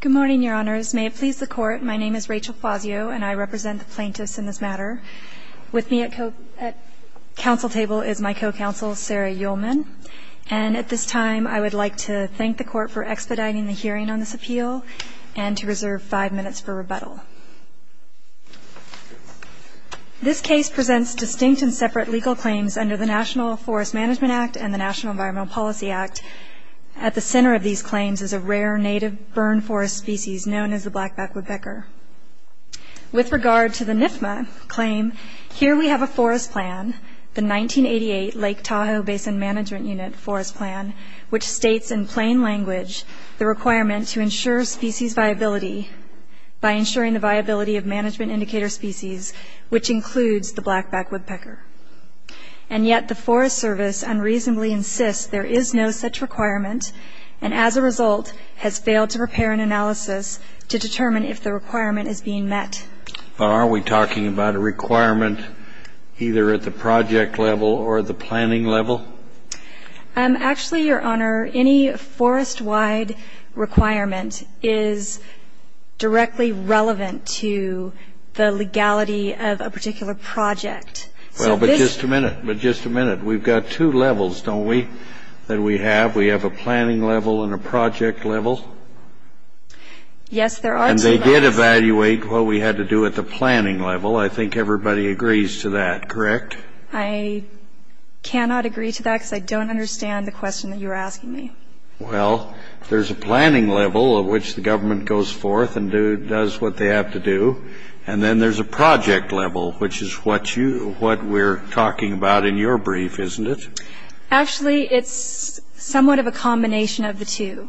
Good morning, your honors. May it please the court, my name is Rachel Fazio, and I represent the plaintiffs in this matter. With me at counsel table is my co-counsel, Sarah Ullman. And at this time, I would like to thank the court for expediting the hearing on this appeal and to reserve five minutes for rebuttal. This case presents distinct and separate legal claims under the National Forest Management Act and the National Environmental Policy Act. At the center of these claims is a rare native burn forest species known as the blackback woodpecker. With regard to the NIFMA claim, here we have a forest plan, the 1988 Lake Tahoe Basin Management Unit forest plan, which states in plain language the requirement to ensure species viability by ensuring the viability of management indicator species, which includes the blackback woodpecker. And yet the Forest Service unreasonably insists there is no such requirement, and as a result has failed to prepare an analysis to determine if the requirement is being met. But are we talking about a requirement either at the project level or at the planning level? Actually, Your Honor, any forest-wide requirement is directly relevant to the legality of a particular project. Well, but just a minute, but just a minute. We've got two levels, don't we, that we have? We have a planning level and a project level? Yes, there are two levels. And they did evaluate what we had to do at the planning level. I think everybody agrees to that, correct? I cannot agree to that because I don't understand the question that you're asking me. Well, there's a planning level at which the government goes forth and does what they have to do, and then there's a project level, which is what we're talking about in your brief, isn't it? Actually, it's somewhat of a combination of the two.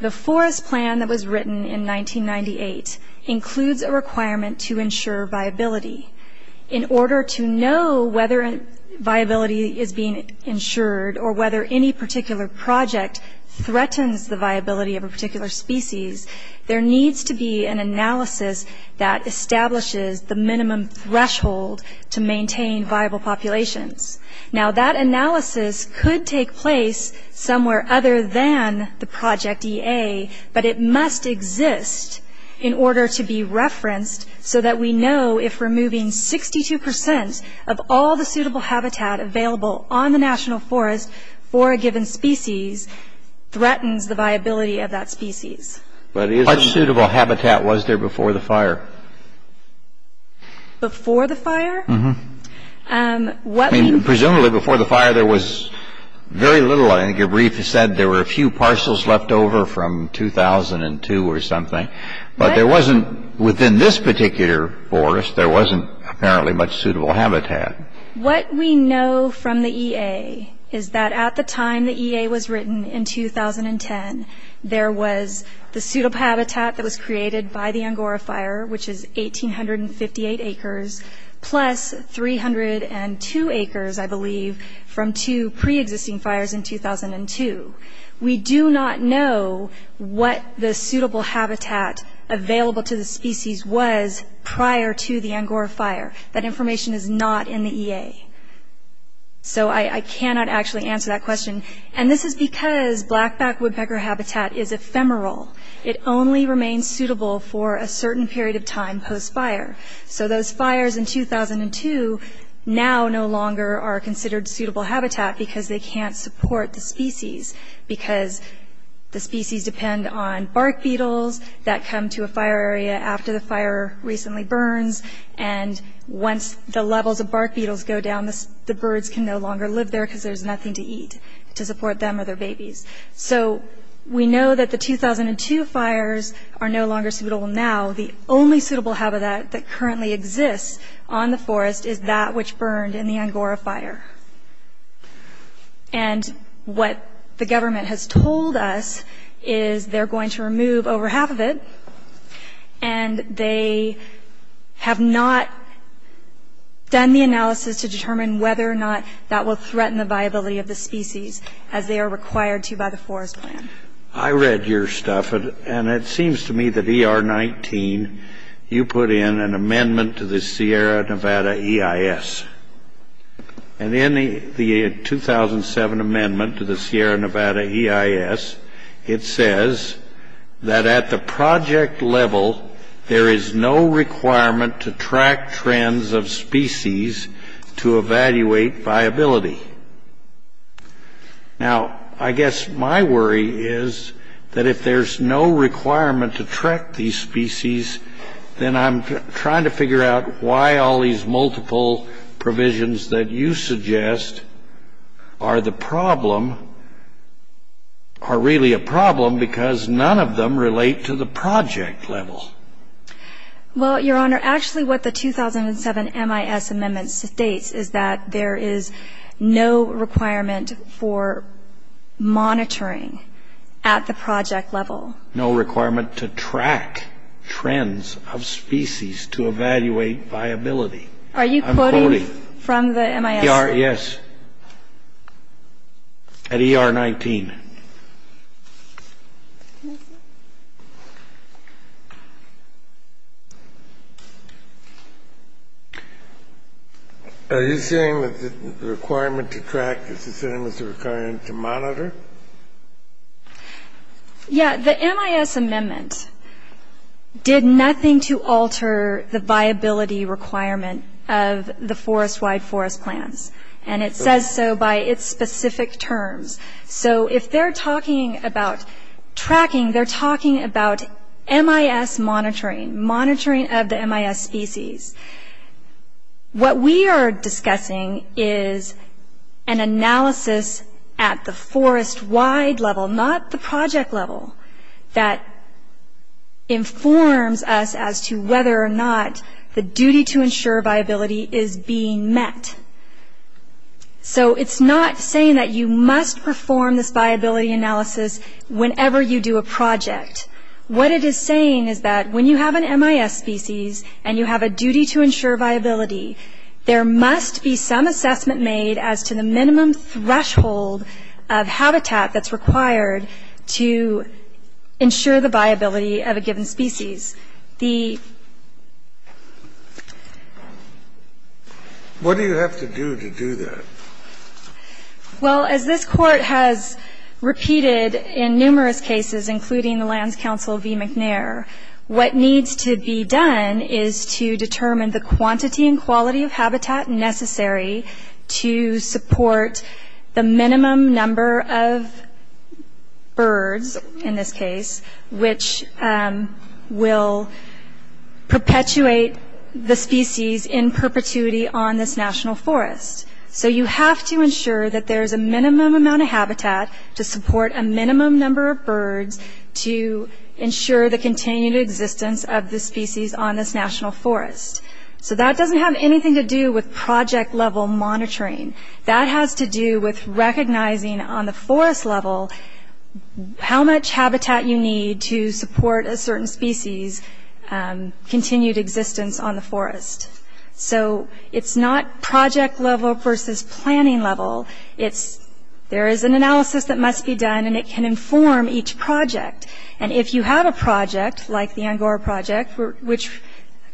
The forest plan that was written in 1998 includes a requirement to ensure viability. In order to know whether viability is being ensured or whether any particular project threatens the viability of a particular species, there needs to be an analysis that establishes the minimum threshold to maintain viable populations. Now, that analysis could take place somewhere other than the Project EA, but it must exist in order to be referenced so that we know if removing 62% of all the suitable habitat available on the national forest for a given species threatens the viability of that species. How much suitable habitat was there before the fire? Before the fire? Presumably, before the fire, there was very little. I think your brief said there were a few parcels left over from 2002 or something, but there wasn't, within this particular forest, there wasn't apparently much suitable habitat. What we know from the EA is that at the time the EA was written in 2010, there was the suitable habitat that was created by the Angora Fire, which is 1,858 acres, plus 302 acres, I believe, from two pre-existing fires in 2002. We do not know what the suitable habitat available to the species was prior to the Angora Fire. That information is not in the EA. So I cannot actually answer that question, and this is because blackback woodpecker habitat is ephemeral. It only remains suitable for a certain period of time post-fire. So those fires in 2002 now no longer are considered suitable habitat because they can't support the species because the species depend on bark beetles that come to a fire area after the fire recently burns, and once the levels of bark beetles go down, the birds can no longer live there because there's nothing to eat to support them or their babies. So we know that the 2002 fires are no longer suitable now. The only suitable habitat that currently exists on the forest is that which burned in the Angora Fire. And what the government has told us is they're going to remove over half of it, and they have not done the analysis to determine whether or not that will threaten the viability of the species as they are required to by the forest plan. I read your stuff, and it seems to me that ER 19, you put in an amendment to the Sierra Nevada EIS. And in the 2007 amendment to the Sierra Nevada EIS, it says that at the project level, there is no requirement to track trends of species to evaluate viability. Now, I guess my worry is that if there's no requirement to track these species, then I'm trying to figure out why all these multiple provisions that you suggest are the problem, are really a problem, because none of them relate to the project level. Well, Your Honor, actually what the 2007 MIS amendment states is that there is no requirement for monitoring at the project level. No requirement to track trends of species to evaluate viability. Are you quoting from the MIS? Yes. At ER 19. Okay. Are you saying that the requirement to track is the same as the requirement to monitor? Yeah, the MIS amendment did nothing to alter the viability requirement of the forest-wide forest plans. And it says so by its specific terms. So if they're talking about tracking, they're talking about MIS monitoring, monitoring of the MIS species. What we are discussing is an analysis at the forest-wide level, not the project level, that informs us as to whether or not the duty to ensure viability is being met. So it's not saying that you must perform this viability analysis whenever you do a project. What it is saying is that when you have an MIS species and you have a duty to ensure viability, there must be some assessment made as to the minimum threshold of habitat that's required to ensure the viability of a given species. What do you have to do to do that? Well, as this court has repeated in numerous cases, including the Lands Council v. McNair, what needs to be done is to determine the quantity and quality of habitat necessary to support the minimum number of birds, in this case, which will perpetuate the species in perpetuity on this national forest. So you have to ensure that there's a minimum amount of habitat to support a minimum number of birds to ensure the continued existence of the species on this national forest. So that doesn't have anything to do with project-level monitoring. That has to do with recognizing on the forest level how much habitat you need to support a certain species' continued existence on the forest. So it's not project-level versus planning-level, it's there is an analysis that must be done and it can inform each project. And if you have a project like the Angora Project, which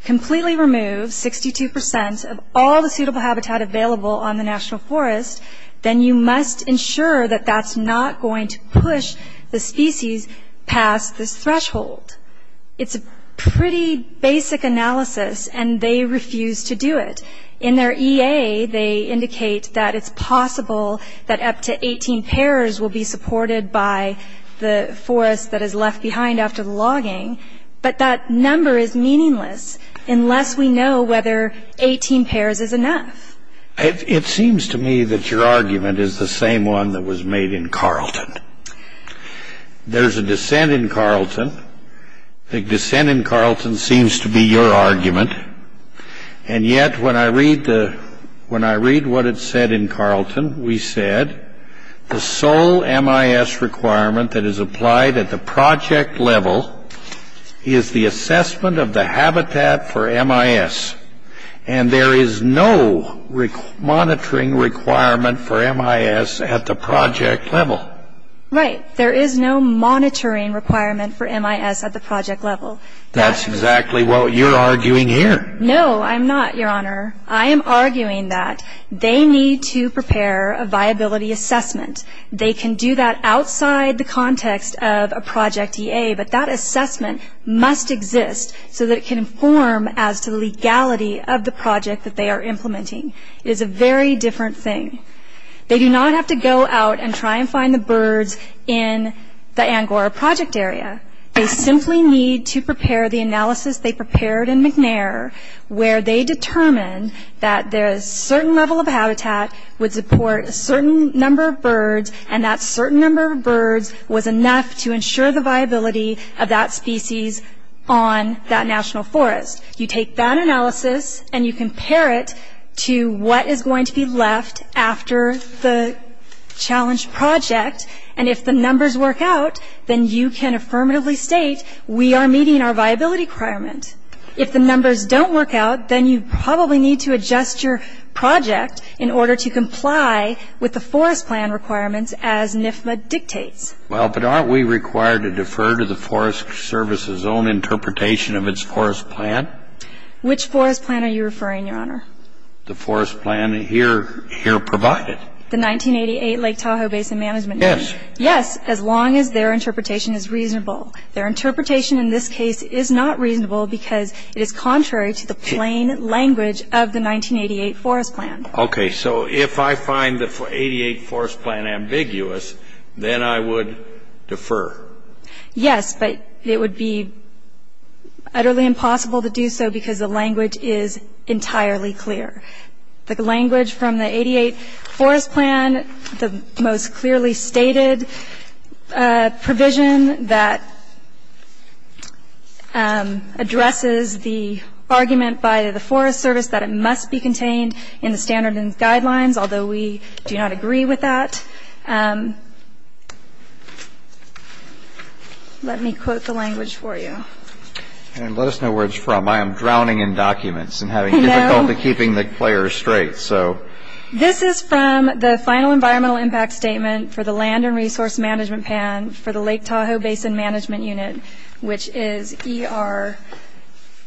completely removes 62% of all the suitable habitat available on the national forest, then you must ensure that that's not going to push the species past this threshold. It's a pretty basic analysis and they refuse to do it. In their EA, they indicate that it's possible that up to 18 pairs will be supported by the forest that is left behind after the logging, but that number is meaningless unless we know whether 18 pairs is enough. It seems to me that your argument is the same one that was made in Carleton. There's a dissent in Carleton. The dissent in Carleton seems to be your argument. And yet when I read what it said in Carleton, we said the sole MIS requirement that is applied at the project level is the assessment of the habitat for MIS. And there is no monitoring requirement for MIS at the project level. Right, there is no monitoring requirement for MIS at the project level. That's exactly what you're arguing here. No, I'm not, your honor. I am arguing that they need to prepare a viability assessment. They can do that outside the context of a project EA, but that assessment must exist so that it can inform as to the legality of the project that they are implementing. It is a very different thing. They do not have to go out and try and find the birds in the Angora project area. They simply need to prepare the analysis they prepared in McNair where they determined that there's a certain level of habitat would support a certain number of birds and that certain number of birds was enough to ensure the viability of that species on that national forest. You take that analysis and you compare it to what is going to be left after the challenge project. And if the numbers work out, then you can affirmatively state we are meeting our viability requirement. If the numbers don't work out, then you probably need to adjust your project in order to comply with the forest plan requirements as NFMA dictates. Well, but aren't we required to defer of its forest plan? Which forest plan are you referring, your honor? The forest plan here provided. The 1988 Lake Tahoe Basin Management Plan. Yes. Yes, as long as their interpretation is reasonable. Their interpretation in this case is not reasonable because it is contrary to the plain language of the 1988 forest plan. Okay, so if I find the 88 forest plan ambiguous, then I would defer. Yes, but it would be utterly impossible to do so because the language is entirely clear. The language from the 88 forest plan, the most clearly stated provision that addresses the argument by the forest service that it must be contained in the standard and guidelines, although we do not agree with that. Let me quote the language for you. And let us know where it's from. I am drowning in documents and having difficulty keeping the players straight, so. This is from the final environmental impact statement for the land and resource management plan for the Lake Tahoe Basin Management Unit, which is ER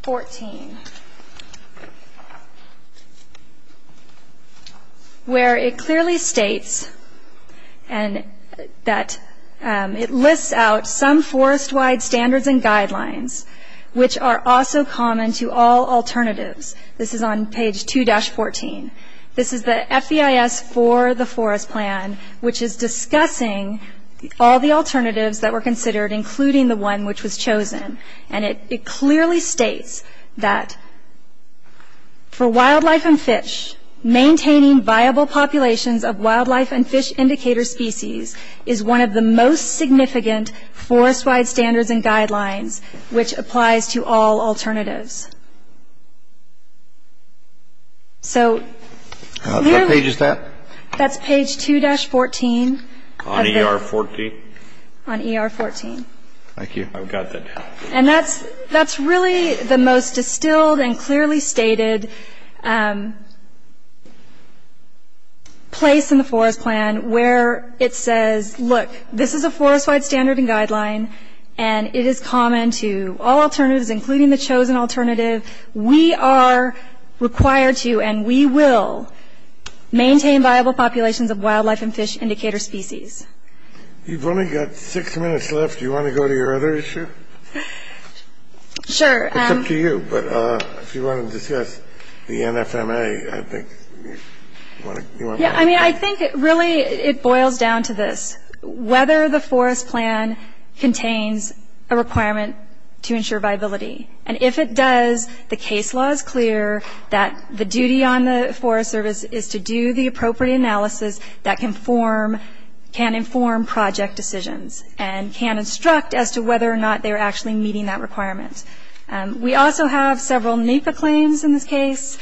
14, where it clearly states that it lists out some forest wide standards and guidelines, which are also common to all alternatives. This is on page 2-14. This is the FEIS for the forest plan, which is discussing all the alternatives that were considered, including the one which was chosen. And it clearly states that for wildlife and fish, maintaining viable populations of wildlife and fish indicator species is one of the most significant forest wide standards and guidelines, which applies to all alternatives. So, clearly. What page is that? That's page 2-14. On ER 14? On ER 14. Thank you. I've got that. And that's really the most distilled and clearly stated place in the forest plan where it says, look, this is a forest wide standard and guideline, and it is common to all alternatives, including the chosen alternative. We are required to, and we will, maintain viable populations of wildlife and fish indicator species. You've only got six minutes left. Do you want to go to your other issue? Sure. It's up to you, but if you want to discuss the NFMA, I think you want to. Yeah, I mean, I think it really, it boils down to this. Whether the forest plan contains a requirement to ensure viability. And if it does, the case law is clear that the duty on the Forest Service is to do the appropriate analysis that can inform project decisions and can instruct as to whether or not they're actually meeting that requirement. We also have several NEPA claims in this case.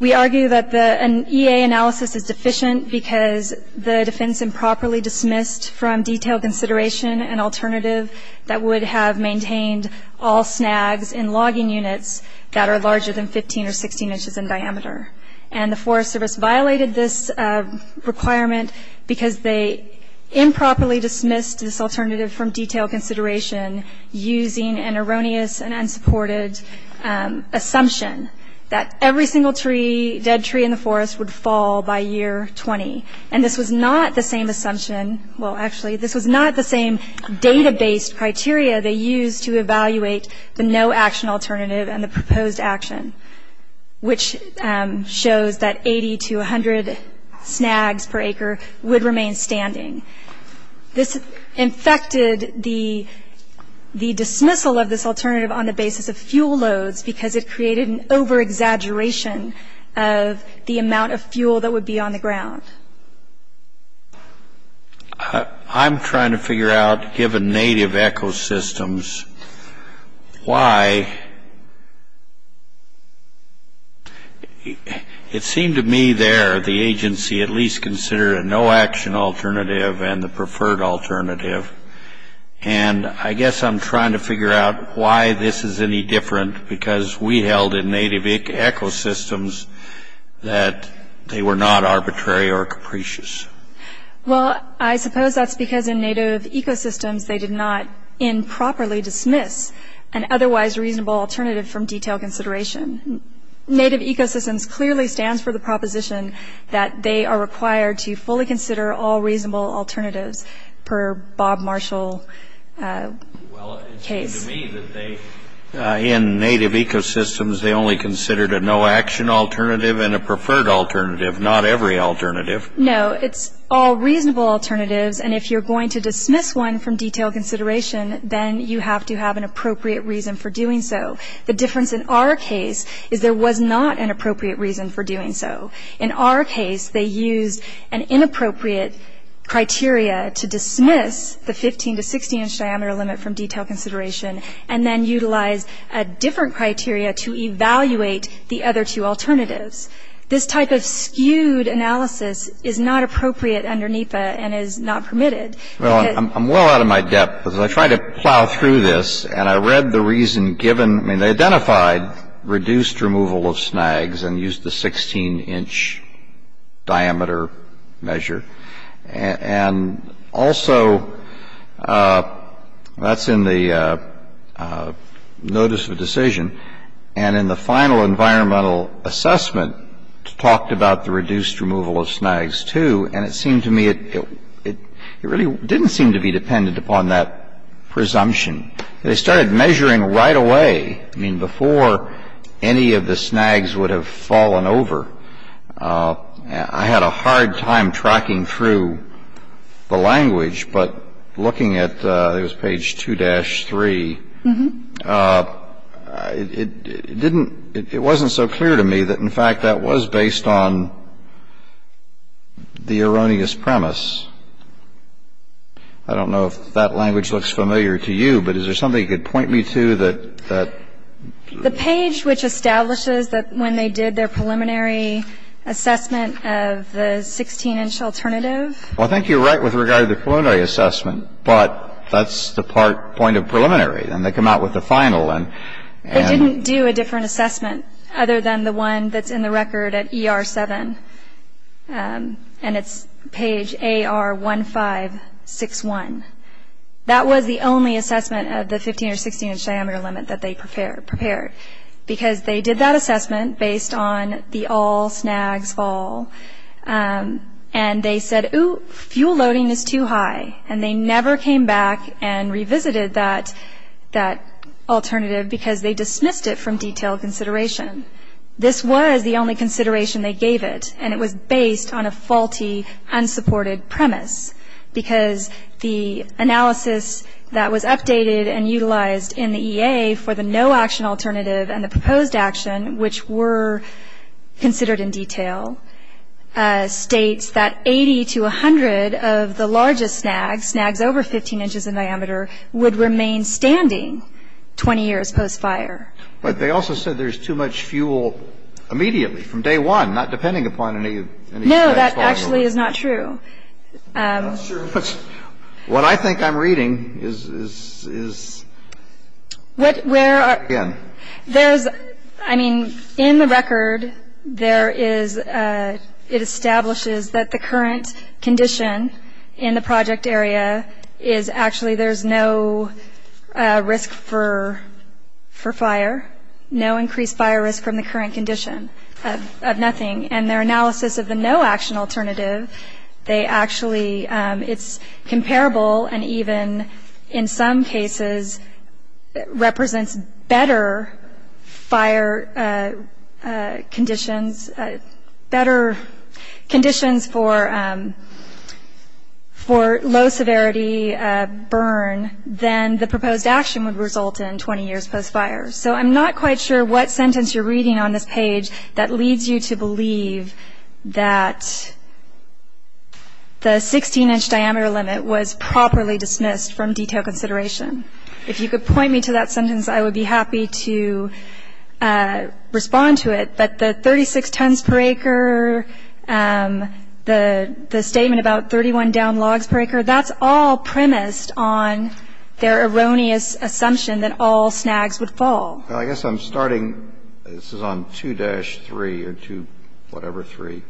We argue that an EA analysis is deficient because the defense improperly dismissed from detailed consideration an alternative that would have maintained all snags in logging units that are larger than 15 or 16 inches in diameter. And the Forest Service violated this requirement because they improperly dismissed this alternative from detailed consideration using an erroneous and unsupported assumption that every single tree, every single tree in the forest would fall by year 20. And this was not the same assumption. Well, actually this was not the same data-based criteria they used to evaluate the no action alternative and the proposed action, which shows that 80 to 100 snags per acre would remain standing. This infected the dismissal of this alternative on the basis of fuel loads because it created an over-exaggeration of the amount of fuel that would be on the ground. I'm trying to figure out, given native ecosystems, why, it seemed to me there, the agency at least considered a no action alternative and the preferred alternative. And I guess I'm trying to figure out why this is any different because we held in native ecosystems that they were not arbitrary or capricious. Well, I suppose that's because in native ecosystems, they did not improperly dismiss an otherwise reasonable alternative from detailed consideration. Native ecosystems clearly stands for the proposition that they are required to fully consider all reasonable alternatives per Bob Marshall case. Well, it seemed to me that they, in native ecosystems, they only considered a no action alternative and a preferred alternative, not every alternative. No, it's all reasonable alternatives. And if you're going to dismiss one from detailed consideration, then you have to have an appropriate reason for doing so. The difference in our case is there was not an appropriate reason for doing so. In our case, they used an inappropriate criteria to dismiss the 15 to 16 inch diameter limit from detailed consideration and then utilize a different criteria to evaluate the other two alternatives. This type of skewed analysis is not appropriate under NEPA and is not permitted. Well, I'm well out of my depth because I tried to plow through this and I read the reason given. I mean, they identified reduced removal of snags and used the 16 inch diameter measure. And also, that's in the notice of decision. And in the final environmental assessment, talked about the reduced removal of snags too. And it seemed to me it really didn't seem to be dependent upon that presumption. They started measuring right away. I mean, before any of the snags would have fallen over. I had a hard time tracking through the language, but looking at, it was page 2-3. It didn't, it wasn't so clear to me that in fact that was based on the erroneous premise. I don't know if that language looks familiar to you, but is there something you could point me to that? The page which establishes that when they did their preliminary assessment of the 16 inch alternative. Well, I think you're right with regard to the preliminary assessment, but that's the part point of preliminary. Then they come out with the final and. They didn't do a different assessment other than the one that's in the record at ER-7. And it's page AR-1561. That was the only assessment of the 15 or 16 inch diameter limit that they prepared. Because they did that assessment based on the all snags fall. And they said, ooh, fuel loading is too high. And they never came back and revisited that alternative because they dismissed it from detailed consideration. This was the only consideration they gave it. And it was based on a faulty unsupported premise because the analysis that was updated and utilized in the EA for the no action alternative and the proposed action, which were considered in detail, states that 80 to 100 of the largest snags, snags over 15 inches in diameter, would remain standing 20 years post-fire. But they also said there's too much fuel immediately from day one, not depending upon any. No, that actually is not true. I'm not sure what I think I'm reading is. What, where are, there's, I mean, in the record, there is, it establishes that the current condition in the project area is actually, there's no risk for fire, no increased fire risk from the current condition of nothing. And their analysis of the no action alternative, they actually, it's comparable, and even in some cases represents better fire conditions, better conditions for low severity burn than the proposed action would result in 20 years post-fire. So I'm not quite sure what sentence you're reading on this page that leads you to believe that the 16 inch diameter limit was properly dismissed from detailed consideration. If you could point me to that sentence, I would be happy to respond to it. But the 36 tons per acre, the statement about 31 down logs per acre, that's all premised on their erroneous assumption that all snags would fall. I guess I'm starting, this is on 2-3 or two, whatever, three,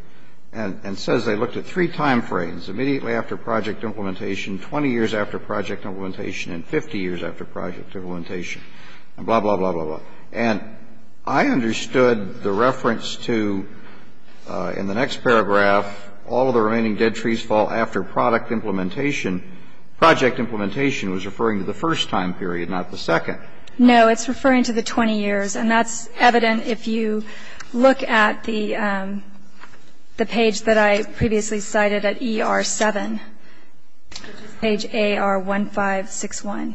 and it says they looked at three timeframes, immediately after project implementation, 20 years after project implementation, and 50 years after project implementation, and blah, blah, blah, blah, blah. And I understood the reference to, in the next paragraph, all of the remaining dead trees fall after product implementation. Project implementation was referring to the first time period, not the second. No, it's referring to the 20 years, and that's evident if you look at the page that I previously cited at ER-7, page AR-1561.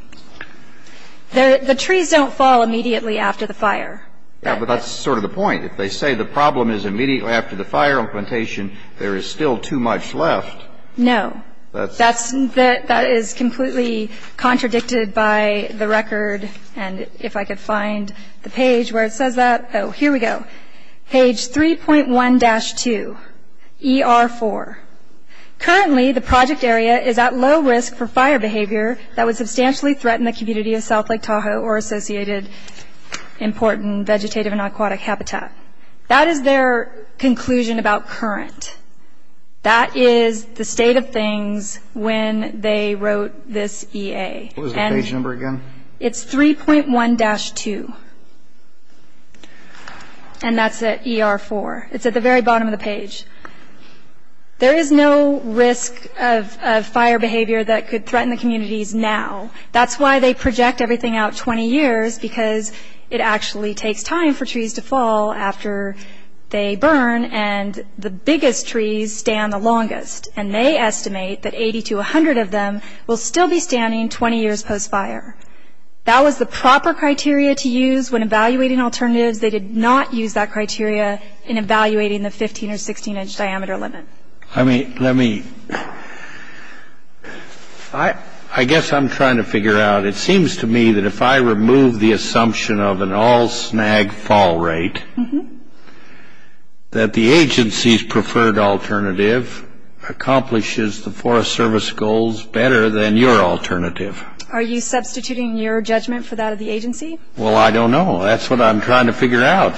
The trees don't fall immediately after the fire. Yeah, but that's sort of the point. If they say the problem is immediately after the fire implementation, there is still too much left. No, that is completely contradicted by the record, and if I could find the page where it says that, oh, here we go. Page 3.1-2, ER-4. Currently, the project area is at low risk for fire behavior that would substantially threaten the community of South Lake Tahoe or associated important vegetative and aquatic habitat. That is their conclusion about current. That is the state of things when they wrote this EA. What was the page number again? It's 3.1-2, and that's at ER-4. It's at the very bottom of the page. There is no risk of fire behavior that could threaten the communities now. That's why they project everything out 20 years, because it actually takes time for trees to fall after they burn, and the biggest trees stand the longest, and they estimate that 80 to 100 of them will still be standing 20 years post-fire. That was the proper criteria to use when evaluating alternatives. They did not use that criteria in evaluating the 15 or 16 inch diameter limit. I mean, let me, I guess I'm trying to figure out, it seems to me that if I remove the assumption of an all snag fall rate, that the agency's preferred alternative accomplishes the Forest Service goals better than your alternative. Are you substituting your judgment for that of the agency? Well, I don't know. That's what I'm trying to figure out.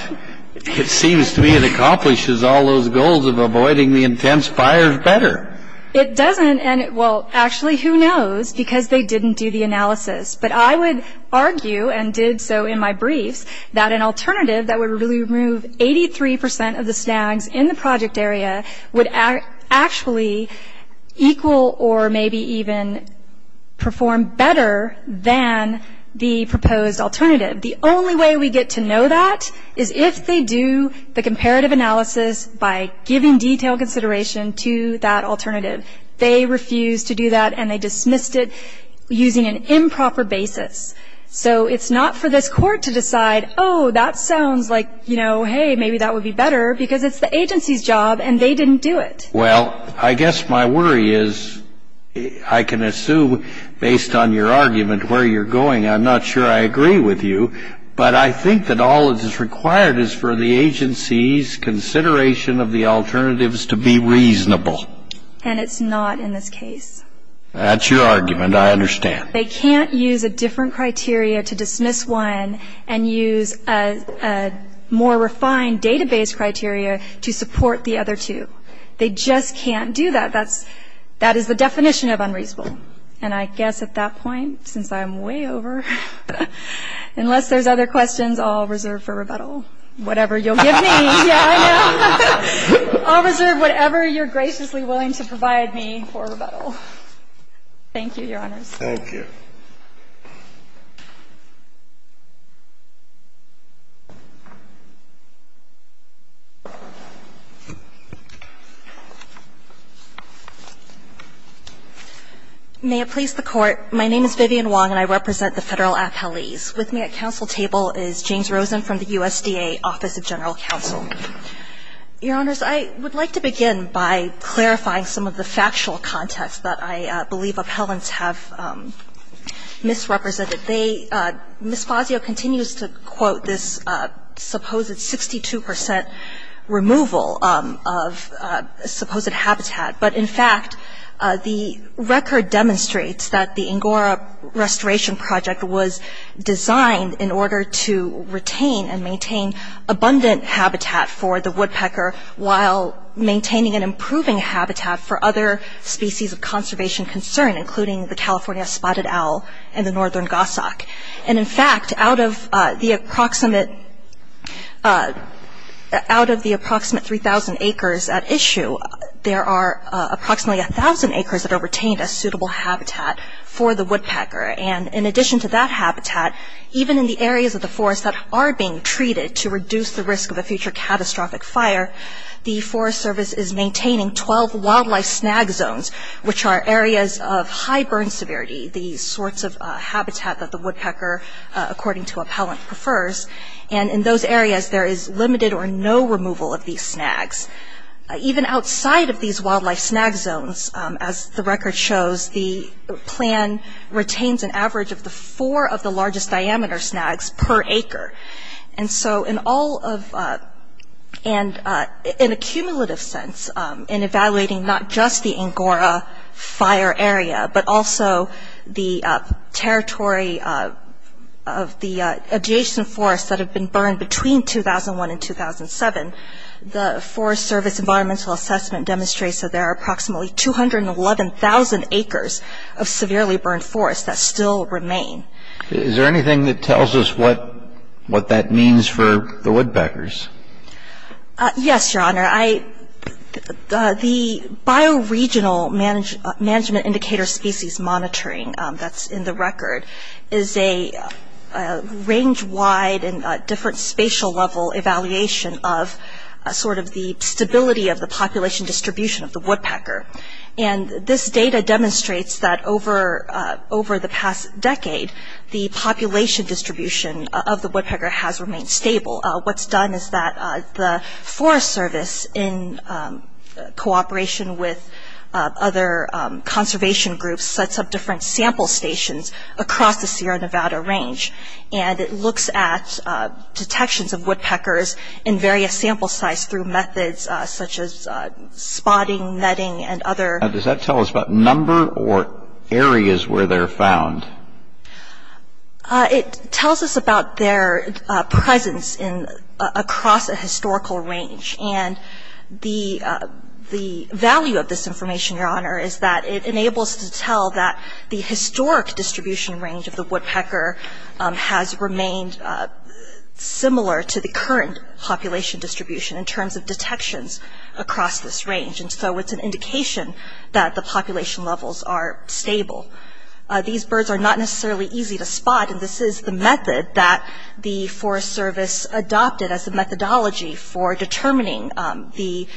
It seems to me it accomplishes all those goals of avoiding the intense fires better. It doesn't, and well, actually, who knows, because they didn't do the analysis, but I would argue, and did so in my briefs, that an alternative that would really remove 83% of the snags in the project area would actually equal or maybe even perform better than the proposed alternative. The only way we get to know that is if they do the comparative analysis by giving detailed consideration to that alternative. They refused to do that, and they dismissed it using an improper basis. So it's not for this court to decide, oh, that sounds like, you know, hey, maybe that would be better, because it's the agency's job, and they didn't do it. Well, I guess my worry is, I can assume, based on your argument, where you're going, I'm not sure I agree with you, but I think that all that is required is for the agency's consideration of the alternatives to be reasonable. And it's not in this case. That's your argument, I understand. They can't use a different criteria to dismiss one and use a more refined database criteria to support the other two. They just can't do that. That's, that is the definition of unreasonable. And I guess at that point, since I'm way over, unless there's other questions, I'll reserve for rebuttal. Whatever you'll give me. Yeah, I know. I'll reserve whatever you're graciously willing to provide me for rebuttal. Thank you, Your Honors. Thank you. Ms. Fazio. May it please the Court. My name is Vivian Wong, and I represent the federal appellees. With me at council table is James Rosen from the USDA Office of General Counsel. Your Honors, I would like to begin by clarifying some of the factual context that I believe appellants have misrepresented. They, Ms. Fazio continues to quote this supposed 62% removal of supposed habitat. But in fact, the record demonstrates that the Angora Restoration Project was designed in order to retain and maintain abundant habitat for the woodpecker while maintaining and improving habitat for other species of conservation concern, including the California spotted owl and the northern goshawk. And in fact, out of the approximate 3,000 acres at issue, there are approximately 1,000 acres that are retained as suitable habitat for the woodpecker. And in addition to that habitat, even in the areas of the forest that are being treated to reduce the risk of a future catastrophic fire, the Forest Service is maintaining 12 wildlife snag zones, which are areas of high burn severity, the sorts of habitat that the woodpecker, according to appellant, prefers. And in those areas, there is limited or no removal of these snags. Even outside of these wildlife snag zones, as the record shows, the plan retains an average of the four of the largest diameter snags per acre. And so in all of, and in a cumulative sense, in evaluating not just the Angora fire area, but also the territory of the adjacent forests that have been burned between 2001 and 2007, the Forest Service environmental assessment demonstrates that there are approximately 211,000 acres of severely burned forests that still remain. Is there anything that tells us what that means for the woodpeckers? Yes, your honor. I, the bioregional management indicator species monitoring that's in the record is a range-wide and different spatial level evaluation of sort of the stability of the population distribution of the woodpecker. And this data demonstrates that over the past decade, the population distribution of the woodpecker has remained stable. What's done is that the Forest Service in cooperation with other conservation groups, sets up different sample stations across the Sierra Nevada range. And it looks at detections of woodpeckers in various sample size through methods such as spotting, netting, and other. Does that tell us about number or areas where they're found? It tells us about their presence across a historical range. And the value of this information, your honor, is that it enables to tell that the historic distribution range of the woodpecker has remained similar to the current population distribution in terms of detections across this range. And so it's an indication that the population levels are stable. These birds are not necessarily easy to spot. And this is the method that the Forest Service adopted as the methodology for determining the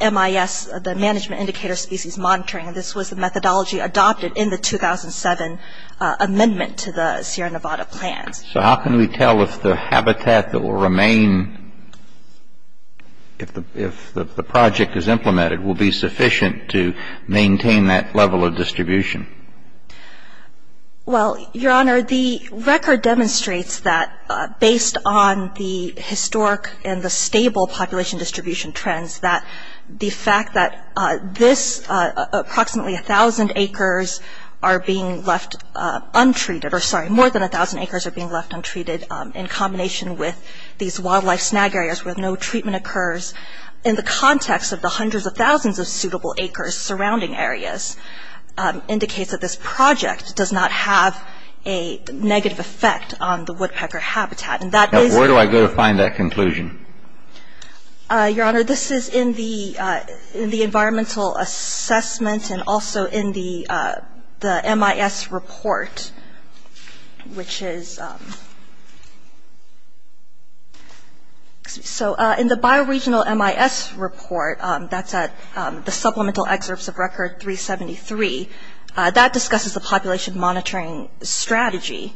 MIS, the Management Indicator Species Monitoring. And this was the methodology adopted in the 2007 amendment to the Sierra Nevada plans. So how can we tell if the habitat that will remain, will be sufficient to maintain that level of distribution? Well, your honor, the record demonstrates that based on the historic and the stable population distribution trends, that the fact that this approximately 1,000 acres are being left untreated, or sorry, more than 1,000 acres are being left untreated in combination with these wildlife snag areas where no treatment occurs in the context of the hundreds of thousands of suitable acres surrounding areas indicates that this project does not have a negative effect on the woodpecker habitat. And that is- Where do I go to find that conclusion? Your honor, this is in the environmental assessment and also in the MIS report, which is... So in the bioregional MIS report, that's at the supplemental excerpts of record 373, that discusses the population monitoring strategy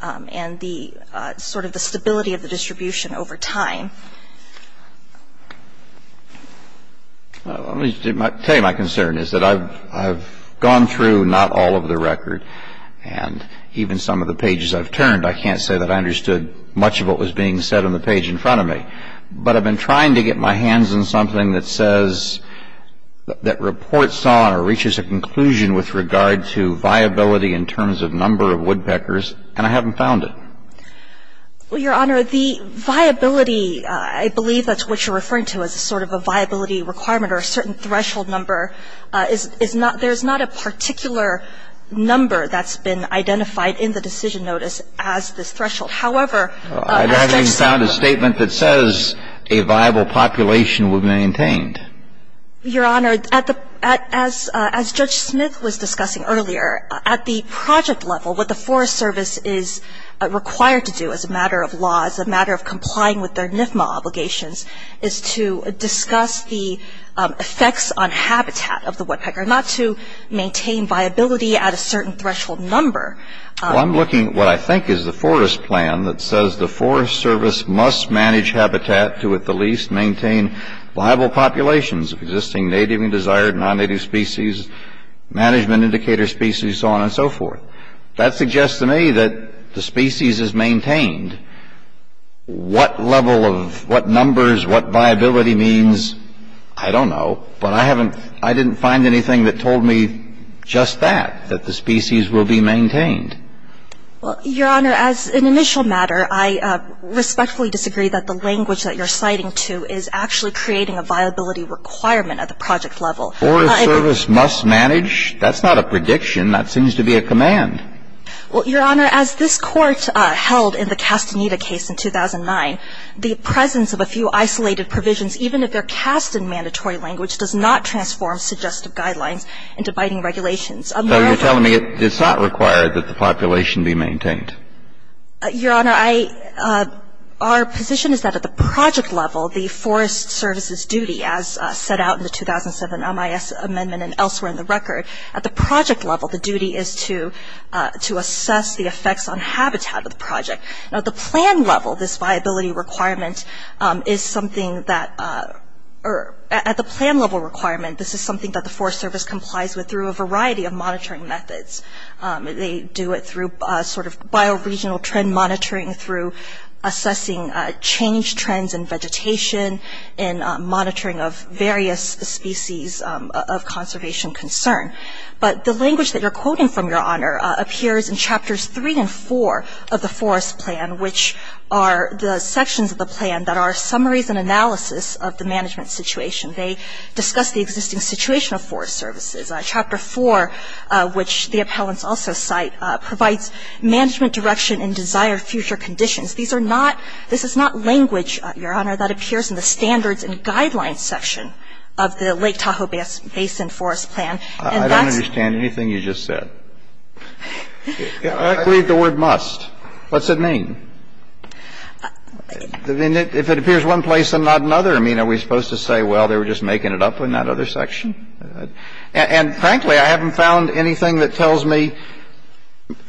and the sort of the stability of the distribution over time. Well, let me tell you my concern is that I've gone through not all of the record and even some of the pages I've turned, I can't say that I understood much of what was being said on the page in front of me, but I've been trying to get my hands on something that says, that reports on or reaches a conclusion with regard to viability in terms of number of woodpeckers, and I haven't found it. Well, your honor, the viability, I believe that's what you're referring to as a sort of a viability requirement or a certain threshold number, there's not a particular number that's been identified in the decision notice as this threshold. However- I haven't even found a statement that says a viable population would be maintained. Your honor, as Judge Smith was discussing earlier, at the project level, what the Forest Service is required to do as a matter of law, as a matter of complying with their NFMA obligations, is to discuss the effects on habitat of the woodpecker, not to maintain viability at a certain threshold number. Well, I'm looking at what I think is the forest plan that says the Forest Service must manage habitat to at the least maintain viable populations of existing native and desired non-native species, management indicator species, so on and so forth. That suggests to me that the species is maintained. What level of, what numbers, what viability means, I don't know, but I haven't, I didn't find anything that told me just that, that the species will be maintained. Well, your honor, as an initial matter, I respectfully disagree that the language that you're citing to is actually creating a viability requirement at the project level. Forest Service must manage? That's not a prediction, that seems to be a command. Well, your honor, as this court held in the Castaneda case in 2009, the presence of a few isolated provisions, even if they're cast in mandatory language, does not transform suggestive guidelines into biting regulations. So you're telling me it's not required that the population be maintained? Your honor, our position is that at the project level, the Forest Service's duty, as set out in the 2007 MIS Amendment and elsewhere in the record, at the project level, the duty is to assess the effects on habitat of the project. Now, at the plan level, this viability requirement is something that, or at the plan level requirement, this is something that the Forest Service complies with through a variety of monitoring methods. They do it through sort of bioregional trend monitoring, through assessing change trends in vegetation, in monitoring of various species of conservation concern. But the language that you're quoting from, your honor, appears in chapters three and four of the Forest Plan, which are the sections of the plan that are summaries and analysis of the management situation. They discuss the existing situation of Forest Services. Chapter four, which the appellants also cite, provides management direction in desired future conditions. These are not, this is not language, your honor, that appears in the standards and guidelines section of the Lake Tahoe Basin Forest Plan. And that's. I don't understand anything you just said. I believe the word must. What's it mean? If it appears one place and not another, I mean, are we supposed to say, well, they were just making it up in that other section? And frankly, I haven't found anything that tells me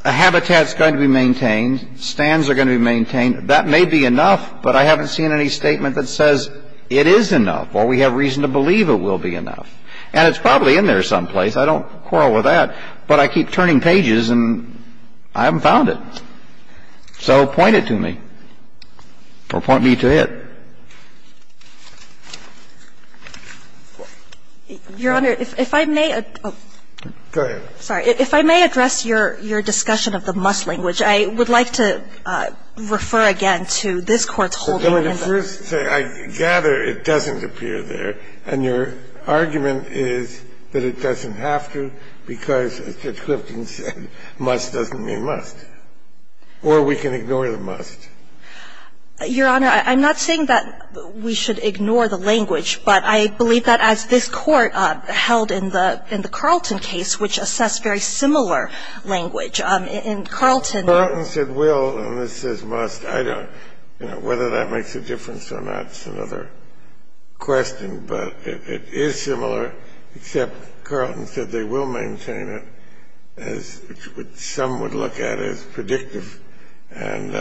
a habitat's going to be maintained, stands are going to be maintained. That may be enough, but I haven't seen any statement that says it is enough, or we have reason to believe it will be enough. And it's probably in there someplace. I don't quarrel with that, but I keep turning pages and I haven't found it. So point it to me, or point me to it. Your Honor, if I may address your discussion of the must language. I would like to refer again to this Court's holding in the. Well, let me first say, I gather it doesn't appear there. And your argument is that it doesn't have to because, as Judge Clifton said, must doesn't mean must. Or we can ignore the must. Your Honor, I'm not saying that we should ignore the language, but I believe that as this Court held in the Carlton case, which assessed very similar language, in Carlton. Carlton said will, and this says must. I don't know whether that makes a difference or not is another question. But it is similar, except Carlton said they will maintain it as some would look at it as predictive. And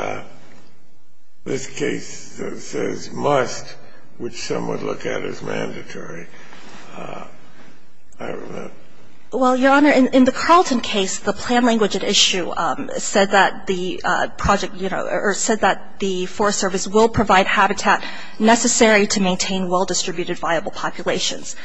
this case says must, which some would look at as mandatory. I don't know. Well, your Honor, in the Carlton case, the plan language at issue said that the project, you know, or said that the Forest Service will provide habitat necessary to maintain well-distributed viable populations.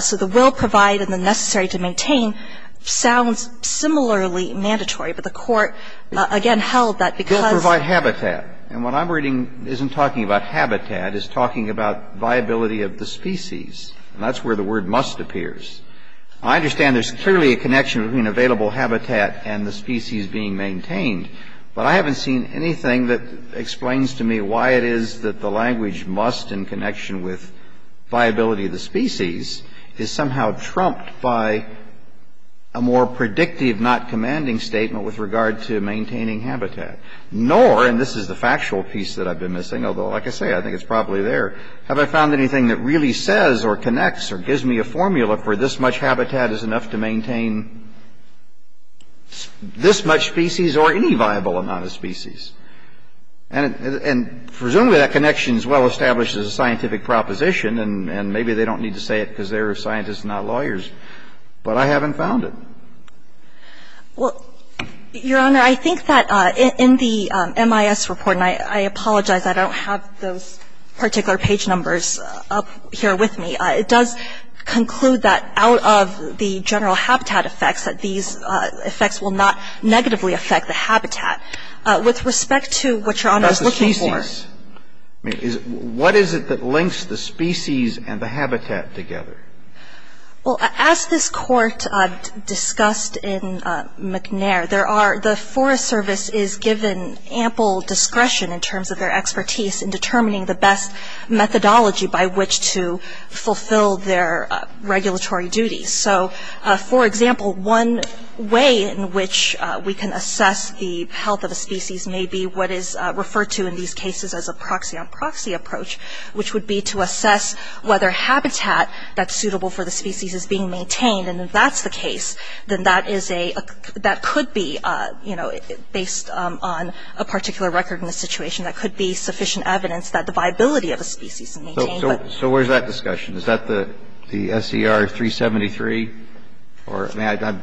So the will provide and the necessary to maintain sounds similarly mandatory. But the Court, again, held that because the Forest Service will provide habitat. And what I'm reading isn't talking about habitat. It's talking about viability of the species. And that's where the word must appears. I understand there's clearly a connection between available habitat and the species being maintained, but I haven't seen anything that explains to me why it is that the language must in connection with viability of the species is somehow trumped by a more predictive not commanding statement with regard to maintaining habitat. Nor, and this is the factual piece that I've been missing, although like I say, I think it's probably there, have I found anything that really says or connects or gives me a formula for this much habitat is enough to maintain this much species or any viable amount of species. And presumably that connection is well established as a scientific proposition, and maybe they don't need to say it because they're scientists, not lawyers. But I haven't found it. Well, Your Honor, I think that in the MIS report, and I apologize, I don't have those particular page numbers up here with me, it does conclude that out of the general habitat effects that these effects will not negatively affect the habitat. With respect to what Your Honor is looking for. That's the species. I mean, what is it that links the species and the habitat together? Well, as this court discussed in McNair, there are, the Forest Service is given ample discretion in terms of their expertise in determining the best methodology by which to fulfill their regulatory duties. So, for example, one way in which we can assess the health of a species may be what is referred to in these cases as a proxy on proxy approach, which would be to assess whether habitat that's suitable for the species is being maintained. And if that's the case, then that is a, that could be, you know, based on a particular record in the situation, that could be sufficient evidence that the viability of a species is maintained. So where's that discussion? Is that the SCR 373? Or may I,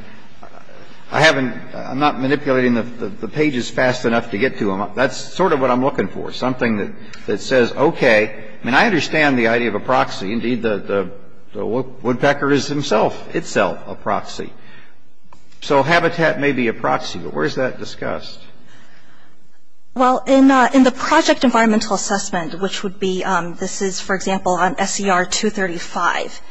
I haven't, I'm not manipulating the pages fast enough to get to them. That's sort of what I'm looking for, something that says, okay, I mean, I understand the idea of a proxy. Indeed, the woodpecker is himself, itself, a proxy. So habitat may be a proxy, but where's that discussed? Well, in the project environmental assessment, which would be, this is, for example, on SCR 235,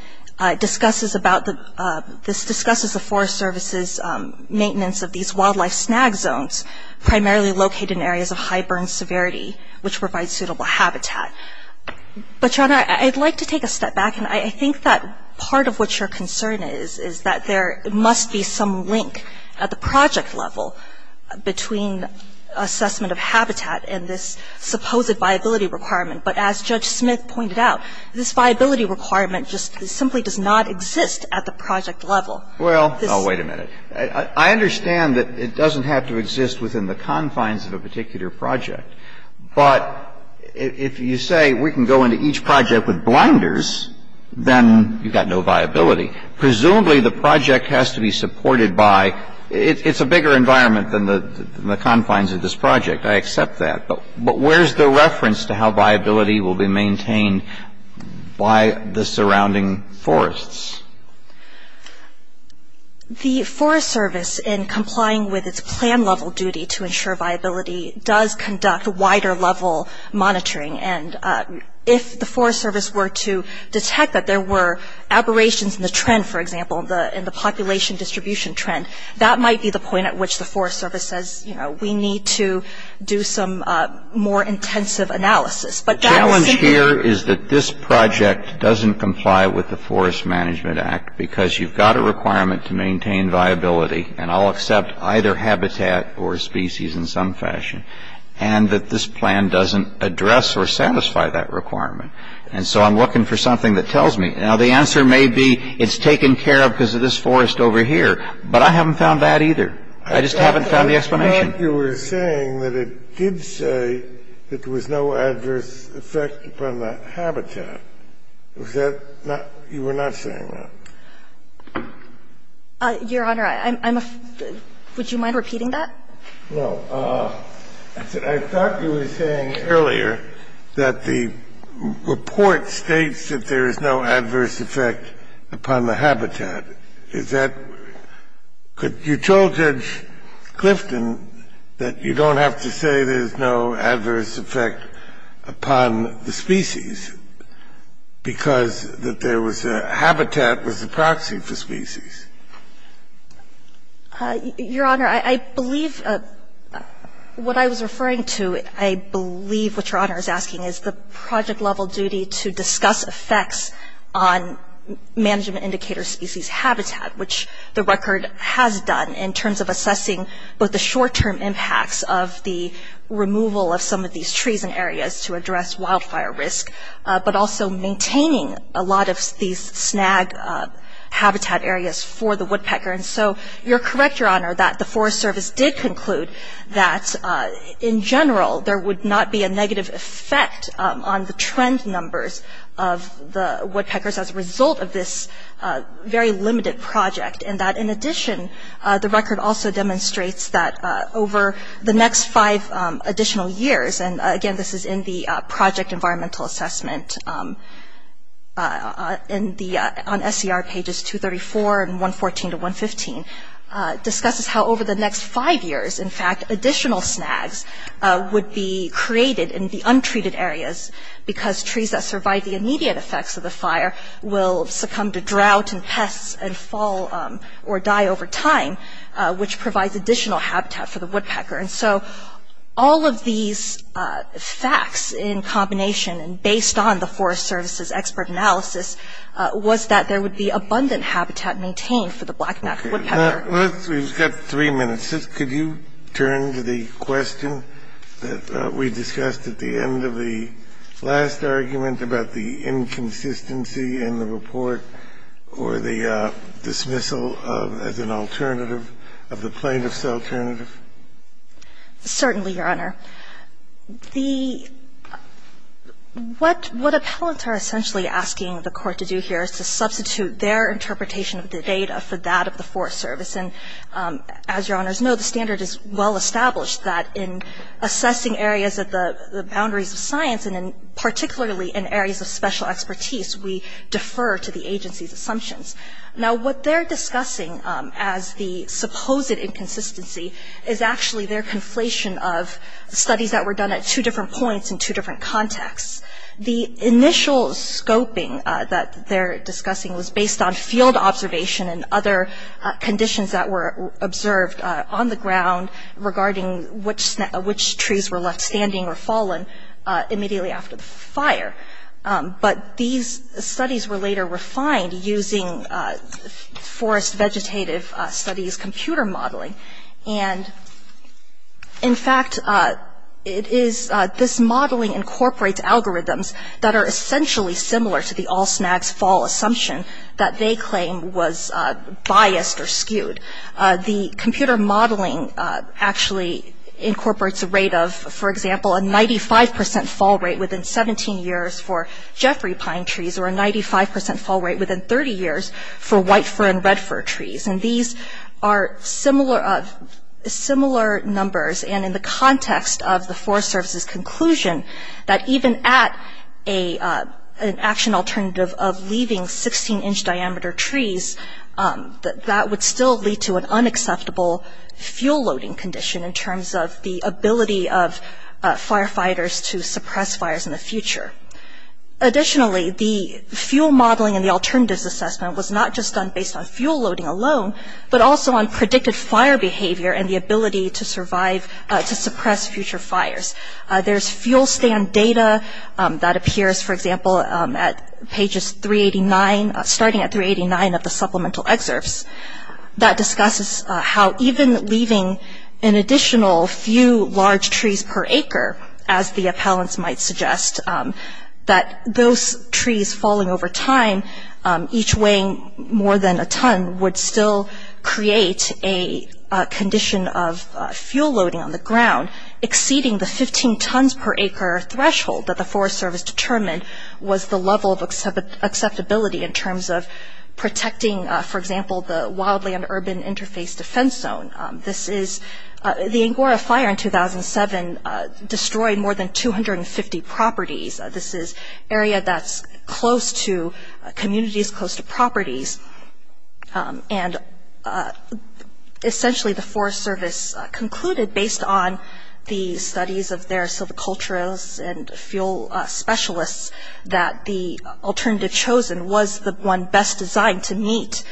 discusses about the, this discusses the Forest Service's maintenance of these wildlife snag zones, primarily located in areas of high burn severity, which provides suitable habitat. But, Your Honor, I'd like to take a step back, and I think that part of what your concern is, is that there must be some link at the project level between assessment of habitat and this supposed viability requirement. But as Judge Smith pointed out, this viability requirement just simply does not exist at the project level. Well, oh, wait a minute. I understand that it doesn't have to exist within the confines of a particular project. But if you say we can go into each project with blinders, then you've got no viability. Presumably, the project has to be supported by, it's a bigger environment than the confines of this project. I accept that. But where's the reference to how viability will be maintained by the surrounding forests? The Forest Service, in complying with its plan level duty to ensure viability, does conduct wider level monitoring, and if the Forest Service were to detect that there were aberrations in the trend, for example, in the population distribution trend, that might be the point at which the Forest Service says, you know, we need to do some more intensive analysis. The challenge here is that this project doesn't comply with the Forest Management Act because you've got a requirement to maintain viability, and I'll accept either habitat or species in some fashion, and that this plan doesn't address or satisfy that requirement. And so I'm looking for something that tells me. Now, the answer may be it's taken care of because of this forest over here. But I haven't found that either. I just haven't found the explanation. I thought you were saying that it did say that there was no adverse effect upon the habitat. Was that not – you were not saying that? Your Honor, I'm – would you mind repeating that? No. I thought you were saying earlier that the report states that there is no adverse effect upon the habitat. Is that – could you tell Judge Clifton that you don't have to say there's no adverse effect upon the species because that there was a – habitat was the proxy for species? Your Honor, I believe what I was referring to, I believe what Your Honor is asking is the project-level duty to discuss effects on management indicator species habitat, which the record has done in terms of assessing both the short-term impacts of the removal of some of these trees and areas to address wildfire risk, but also maintaining a lot of these snag habitat areas for the woodpecker. And so you're correct, Your Honor, that the Forest Service did conclude that in general there would not be a negative effect on the trend numbers of the woodpeckers as a result of this very limited project, and that in addition, the record also demonstrates that over the next five additional years – and again, this is in the project environmental assessment on SCR pages 234 and 114 to 115 – discusses how over the next five years, in fact, additional snags would be created in the untreated areas because trees that survive the immediate effects of the fire will succumb to drought and pests and fall or die over time, which provides additional habitat for the woodpecker. And so all of these facts in combination and based on the Forest Service's expert analysis was that there would be abundant habitat maintained for the black-backed woodpecker. We've got three minutes. Could you turn to the question that we discussed at the end of the last argument about the inconsistency in the report or the dismissal as an alternative of the plaintiff's alternative? Certainly, Your Honor. The – what appellants are essentially asking the Court to do here is to substitute their interpretation of the data for that of the Forest Service. And as Your Honors know, the standard is well established that in assessing areas at the boundaries of science and particularly in areas of special expertise, we defer to the agency's assumptions. Now, what they're discussing as the supposed inconsistency is actually their conflation of studies that were done at two different points in two different contexts. The initial scoping that they're discussing was based on field observation and other conditions that were observed on the ground regarding which trees were left standing or fallen immediately after the fire. But these studies were later refined using forest vegetative studies computer modeling. And in fact, it is – this modeling incorporates algorithms that are essentially similar to the all snags fall assumption that they claim was biased or skewed. The computer modeling actually incorporates a rate of, for example, a 95 percent fall rate within 17 years for Jeffrey pine trees or a 95 percent fall rate within 30 years for white fir and red fir trees. And these are similar numbers. And in the context of the Forest Service's conclusion that even at an action alternative of leaving 16-inch diameter trees, that would still lead to an unacceptable fuel loading condition in terms of the ability of firefighters to suppress fires in the future. Additionally, the fuel modeling and the alternatives assessment was not just done based on fuel loading alone, but also on predicted fire behavior and the ability to survive – to suppress future fires. There's fuel stand data that appears, for example, at pages 389 – starting at 389 of the supplemental excerpts that discusses how even leaving an additional few large trees per acre, as the appellants might suggest, that those trees falling over time, each weighing more than a ton, would still create a condition of fuel loading on the ground exceeding the 15 tons per acre threshold that the Forest Service determined was the level of acceptability in terms of protecting, for example, the wildland urban interface defense zone. This is – the Angora fire in 2007 destroyed more than 250 properties. This is an area that's close to communities, close to properties, and essentially the Forest Service concluded, based on the studies of their silviculturists and fuel specialists, that the alternative chosen was the one best designed to meet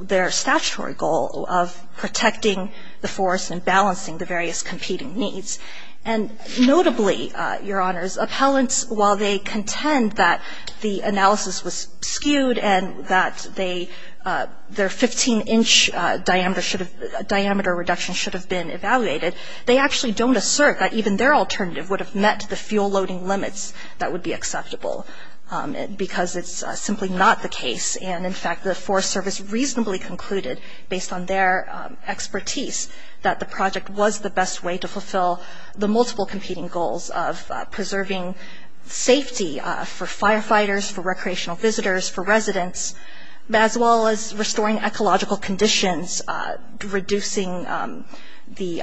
their statutory goal of protecting the forest and balancing the various competing needs. And notably, Your Honors, appellants, while they contend that the analysis was skewed and that they – their 15-inch diameter should have – diameter reduction should have been evaluated, they actually don't assert that even their alternative would have met the fuel loading limits that would be acceptable, because it's simply not the case. And in fact, the Forest Service reasonably concluded, based on their expertise, that the project was the best way to fulfill the multiple competing goals of preserving safety for firefighters, for recreational visitors, for residents, as well as restoring ecological conditions, reducing the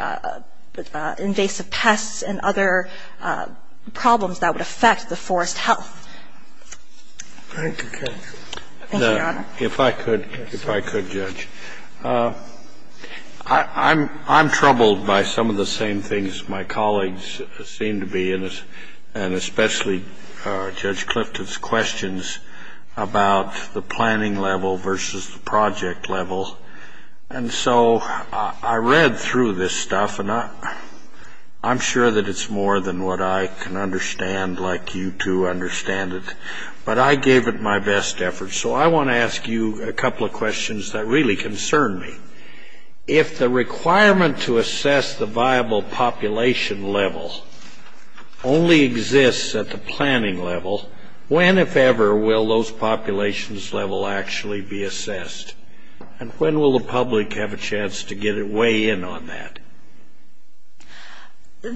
invasive pests and other problems that would affect the forest health. Thank you, Your Honor. If I could, if I could, Judge. I'm troubled by some of the same things my colleagues seem to be, and especially Judge Clifton's questions about the planning level versus the project level. And so I read through this stuff, and I'm sure that it's more than what I can understand, like you two understand it. But I gave it my best effort. So I want to ask you a couple of questions that really concern me. If the requirement to assess the viable population level only exists at the planning level, when, if ever, will those populations level actually be assessed? And when will the public have a chance to get a weigh-in on that?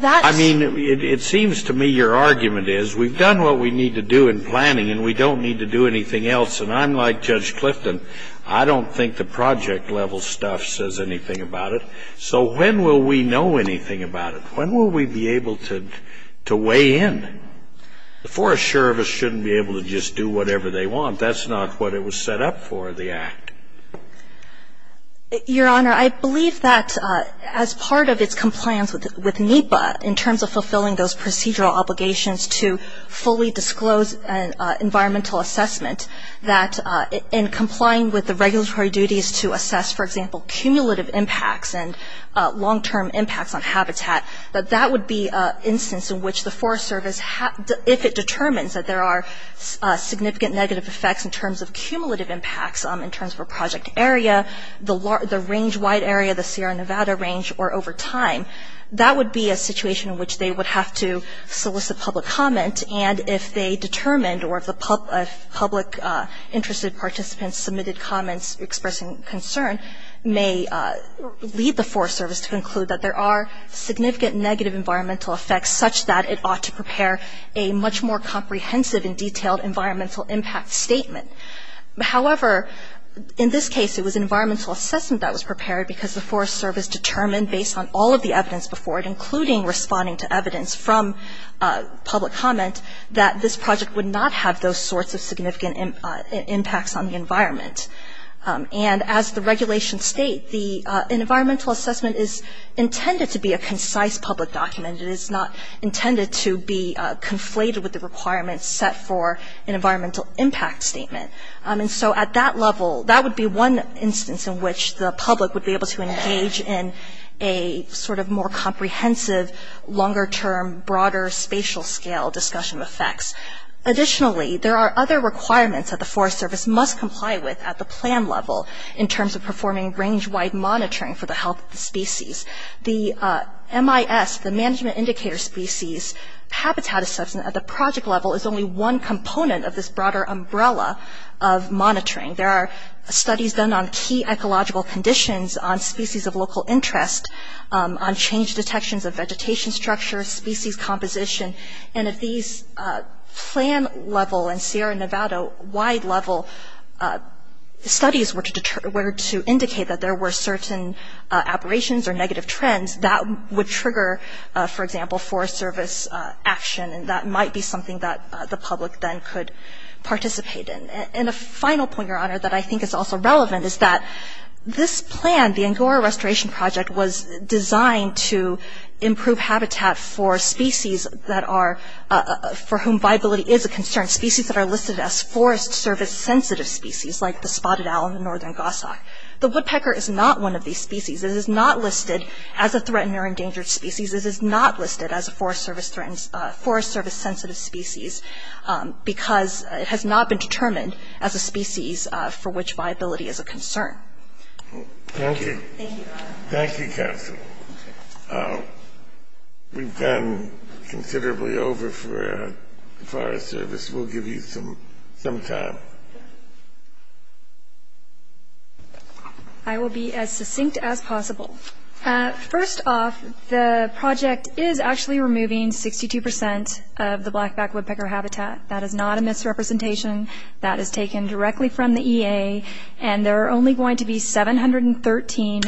I mean, it seems to me your argument is we've done what we need to do in planning, and we don't need to do anything else. And I'm like Judge Clifton. I don't think the project level stuff says anything about it. So when will we know anything about it? When will we be able to weigh in? The Forest Service shouldn't be able to just do whatever they want. That's not what it was set up for, the act. Your Honor, I believe that as part of its compliance with NEPA, in terms of fulfilling those procedural obligations to fully disclose environmental assessment, that in complying with the regulatory duties to assess, for example, cumulative impacts and long-term impacts on habitat, that that would be an instance in which the Forest Service, if it determines that there are significant negative effects in terms of cumulative impacts, in terms of a project area, the range-wide area, the Sierra Nevada range, or over time, that would be a situation in which they would have to solicit public comment. And if they determined or if the public interested participants submitted comments expressing concern, may lead the Forest Service to conclude that there are significant negative environmental effects, such that it ought to prepare a much more comprehensive and detailed environmental impact statement. However, in this case, it was environmental assessment that was prepared because the Forest Service determined, based on all of the evidence before it, including responding to evidence from public comment, that this project would not have those sorts of significant impacts on the environment. And as the regulations state, an environmental assessment is intended to be a concise public document. It is not intended to be conflated with the requirements set for an environmental impact statement. And so at that level, that would be one instance in which the public would be able to engage in a sort of more comprehensive, longer-term, broader, spatial-scale discussion of effects. Additionally, there are other requirements that the Forest Service must comply with at the plan level in terms of performing range-wide monitoring for the health of the species. The MIS, the Management Indicator Species Habitat Assessment, at the project level is only one component of this broader umbrella of monitoring. There are studies done on key ecological conditions, on species of local interest, on change detections of vegetation structure, species composition. And at these plan level in Sierra Nevada, wide-level studies were to indicate that there were certain aberrations or negative trends that would trigger, for example, Forest Service action, and that might be something that the public then could participate in. And a final point, Your Honor, that I think is also relevant is that this plan, the Angora Restoration Project, was designed to improve habitat for species that are – for whom viability is a concern, species that are listed as Forest Service-sensitive species, like the spotted owl in the northern Gossok. The woodpecker is not one of these species. It is not listed as a threatened or endangered species. It is not listed as a Forest Service-sensitive species because it has not been determined as a species for which viability is a concern. Thank you. Thank you, Your Honor. Thank you, counsel. We've gone considerably over for Forest Service. We'll give you some time. I will be as succinct as possible. First off, the project is actually removing 62 percent of the blackback woodpecker habitat. That is not a misrepresentation. That is taken directly from the EA. There are only going to be 713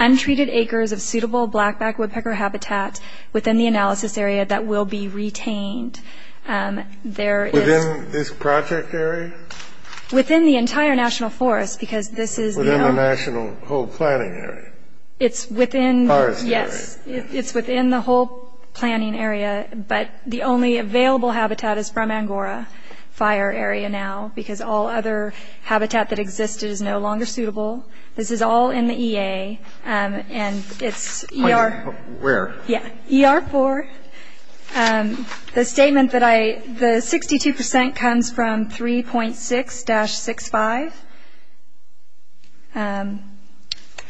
untreated acres of suitable blackback woodpecker habitat within the analysis area that will be retained. Within this project area? Within the entire national forest because this is – Within the national whole planning area? It's within – Forest area. Yes, it's within the whole planning area, but the only available habitat is from Angora Fire Area now because all other habitat that exists is no longer suitable. This is all in the EA, and it's – Where? Yeah, ER4. The statement that I – the 62 percent comes from 3.6-65,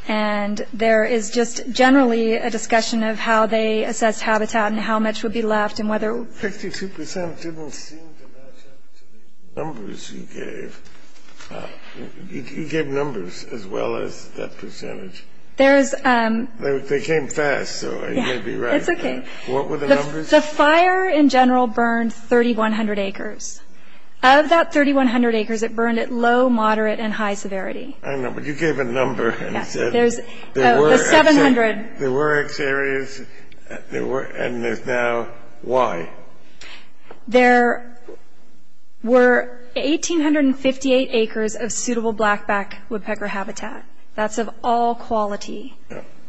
and there is just generally a discussion of how they assess habitat and how much would be left and whether – The 62 percent didn't seem to match up to the numbers you gave. You gave numbers as well as that percentage. There's – They came fast, so are you going to be right? Yeah, it's okay. What were the numbers? The fire in general burned 3,100 acres. Of that 3,100 acres, it burned at low, moderate, and high severity. I know, but you gave a number and said – Yeah, there's 700. There were X areas, and there's now Y. There were 1,858 acres of suitable blackback woodpecker habitat. That's of all quality.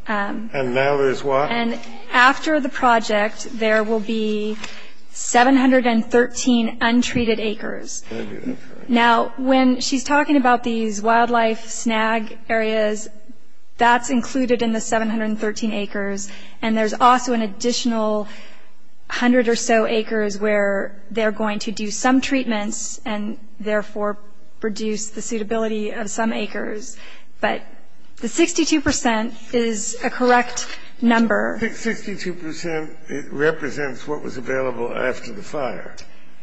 And now there's what? And after the project, there will be 713 untreated acres. Now, when she's talking about these wildlife snag areas, that's included in the 713 acres, and there's also an additional hundred or so acres where they're going to do some treatments and therefore reduce the suitability of some acres. But the 62 percent is a correct number. The 62 percent represents what was available after the fire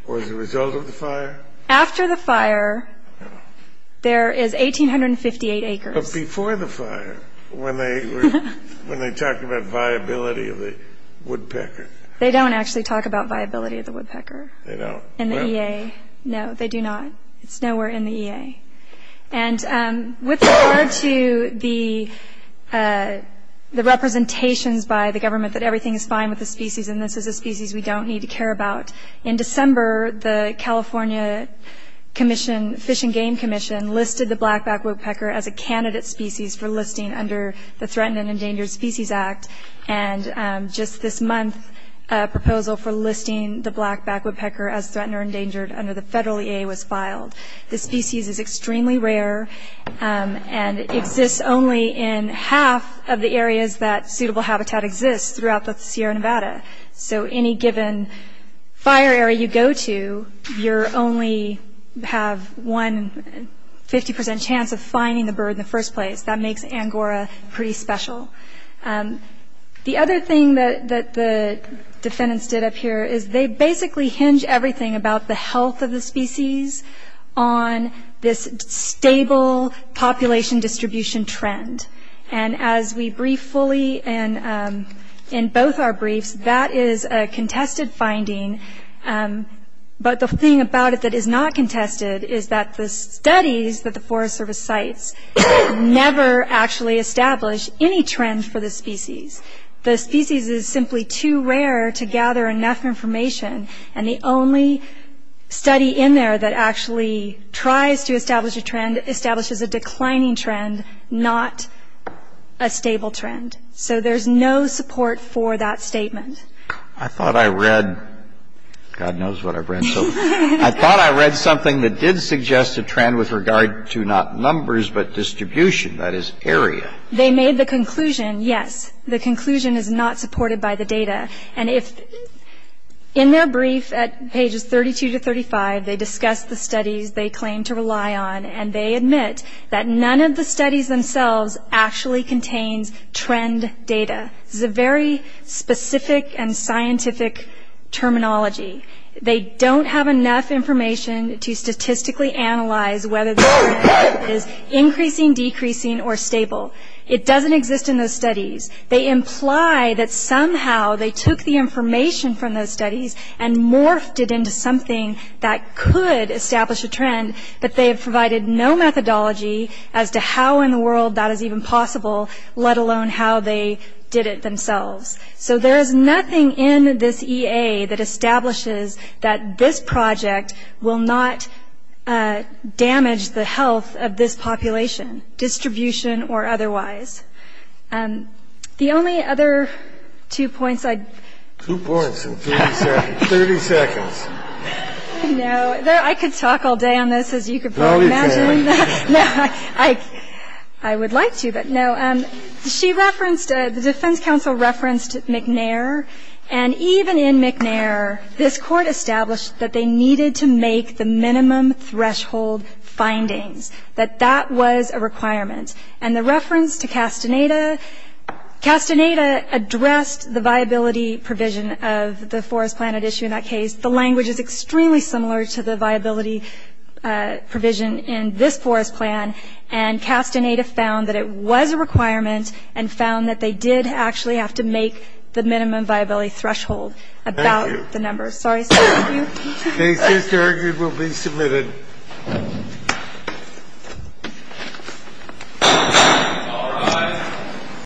or as a result of the fire? After the fire, there is 1,858 acres. But before the fire, when they talked about viability of the woodpecker? They don't actually talk about viability of the woodpecker in the EA. No, they do not. It's nowhere in the EA. And with regard to the representations by the government that everything is fine with the species and this is a species we don't need to care about, in December, the California Fish and Game Commission listed the blackback woodpecker as a candidate species for listing under the Threatened and Endangered Species Act. And just this month, a proposal for listing the blackback woodpecker as Threatened or Endangered under the federal EA was filed. This species is extremely rare and exists only in half of the areas that suitable habitat exists throughout the Sierra Nevada. So any given fire area you go to, you only have one 50% chance of finding the bird in the first place. That makes angora pretty special. The other thing that the defendants did up here is they basically hinge everything about the health of the species on this stable population distribution trend. And as we brief fully in both our briefs, that is a contested finding. But the thing about it that is not contested is that the studies that the Forest Service cites never actually establish any trend for the species. The species is simply too rare to gather enough information. And the only study in there that actually tries to establish a trend establishes a declining trend, not a stable trend. So there's no support for that statement. I thought I read, God knows what I've read, so I thought I read something that did suggest a trend with regard to not numbers but distribution, that is, area. They made the conclusion, yes, the conclusion is not supported by the data. And in their brief at pages 32 to 35, they discuss the studies they claim to rely on, and they admit that none of the studies themselves actually contains trend data. This is a very specific and scientific terminology. They don't have enough information to statistically analyze whether the trend is increasing, decreasing, or stable. It doesn't exist in those studies. They imply that somehow they took the information from those studies and morphed it into something that could establish a trend, but they have provided no methodology as to how in the world that is even possible, let alone how they did it themselves. So there is nothing in this EA that establishes that this project will not damage the health of this population, distribution or otherwise. The only other two points I'd... Two points in 30 seconds. No, I could talk all day on this, as you can probably imagine. No, you can't. No, I would like to, but no. She referenced, the defense counsel referenced McNair, and even in McNair this court established that they needed to make the minimum threshold findings, that that was a requirement. And the reference to Castaneda, Castaneda addressed the viability provision of the forest planet issue in that case. The language is extremely similar to the viability provision in this forest plan, and Castaneda found that it was a requirement and found that they did actually have to make the minimum viability threshold about the number. Thank you. Sorry, sir. Thank you. The case is carried. It will be submitted. All rise.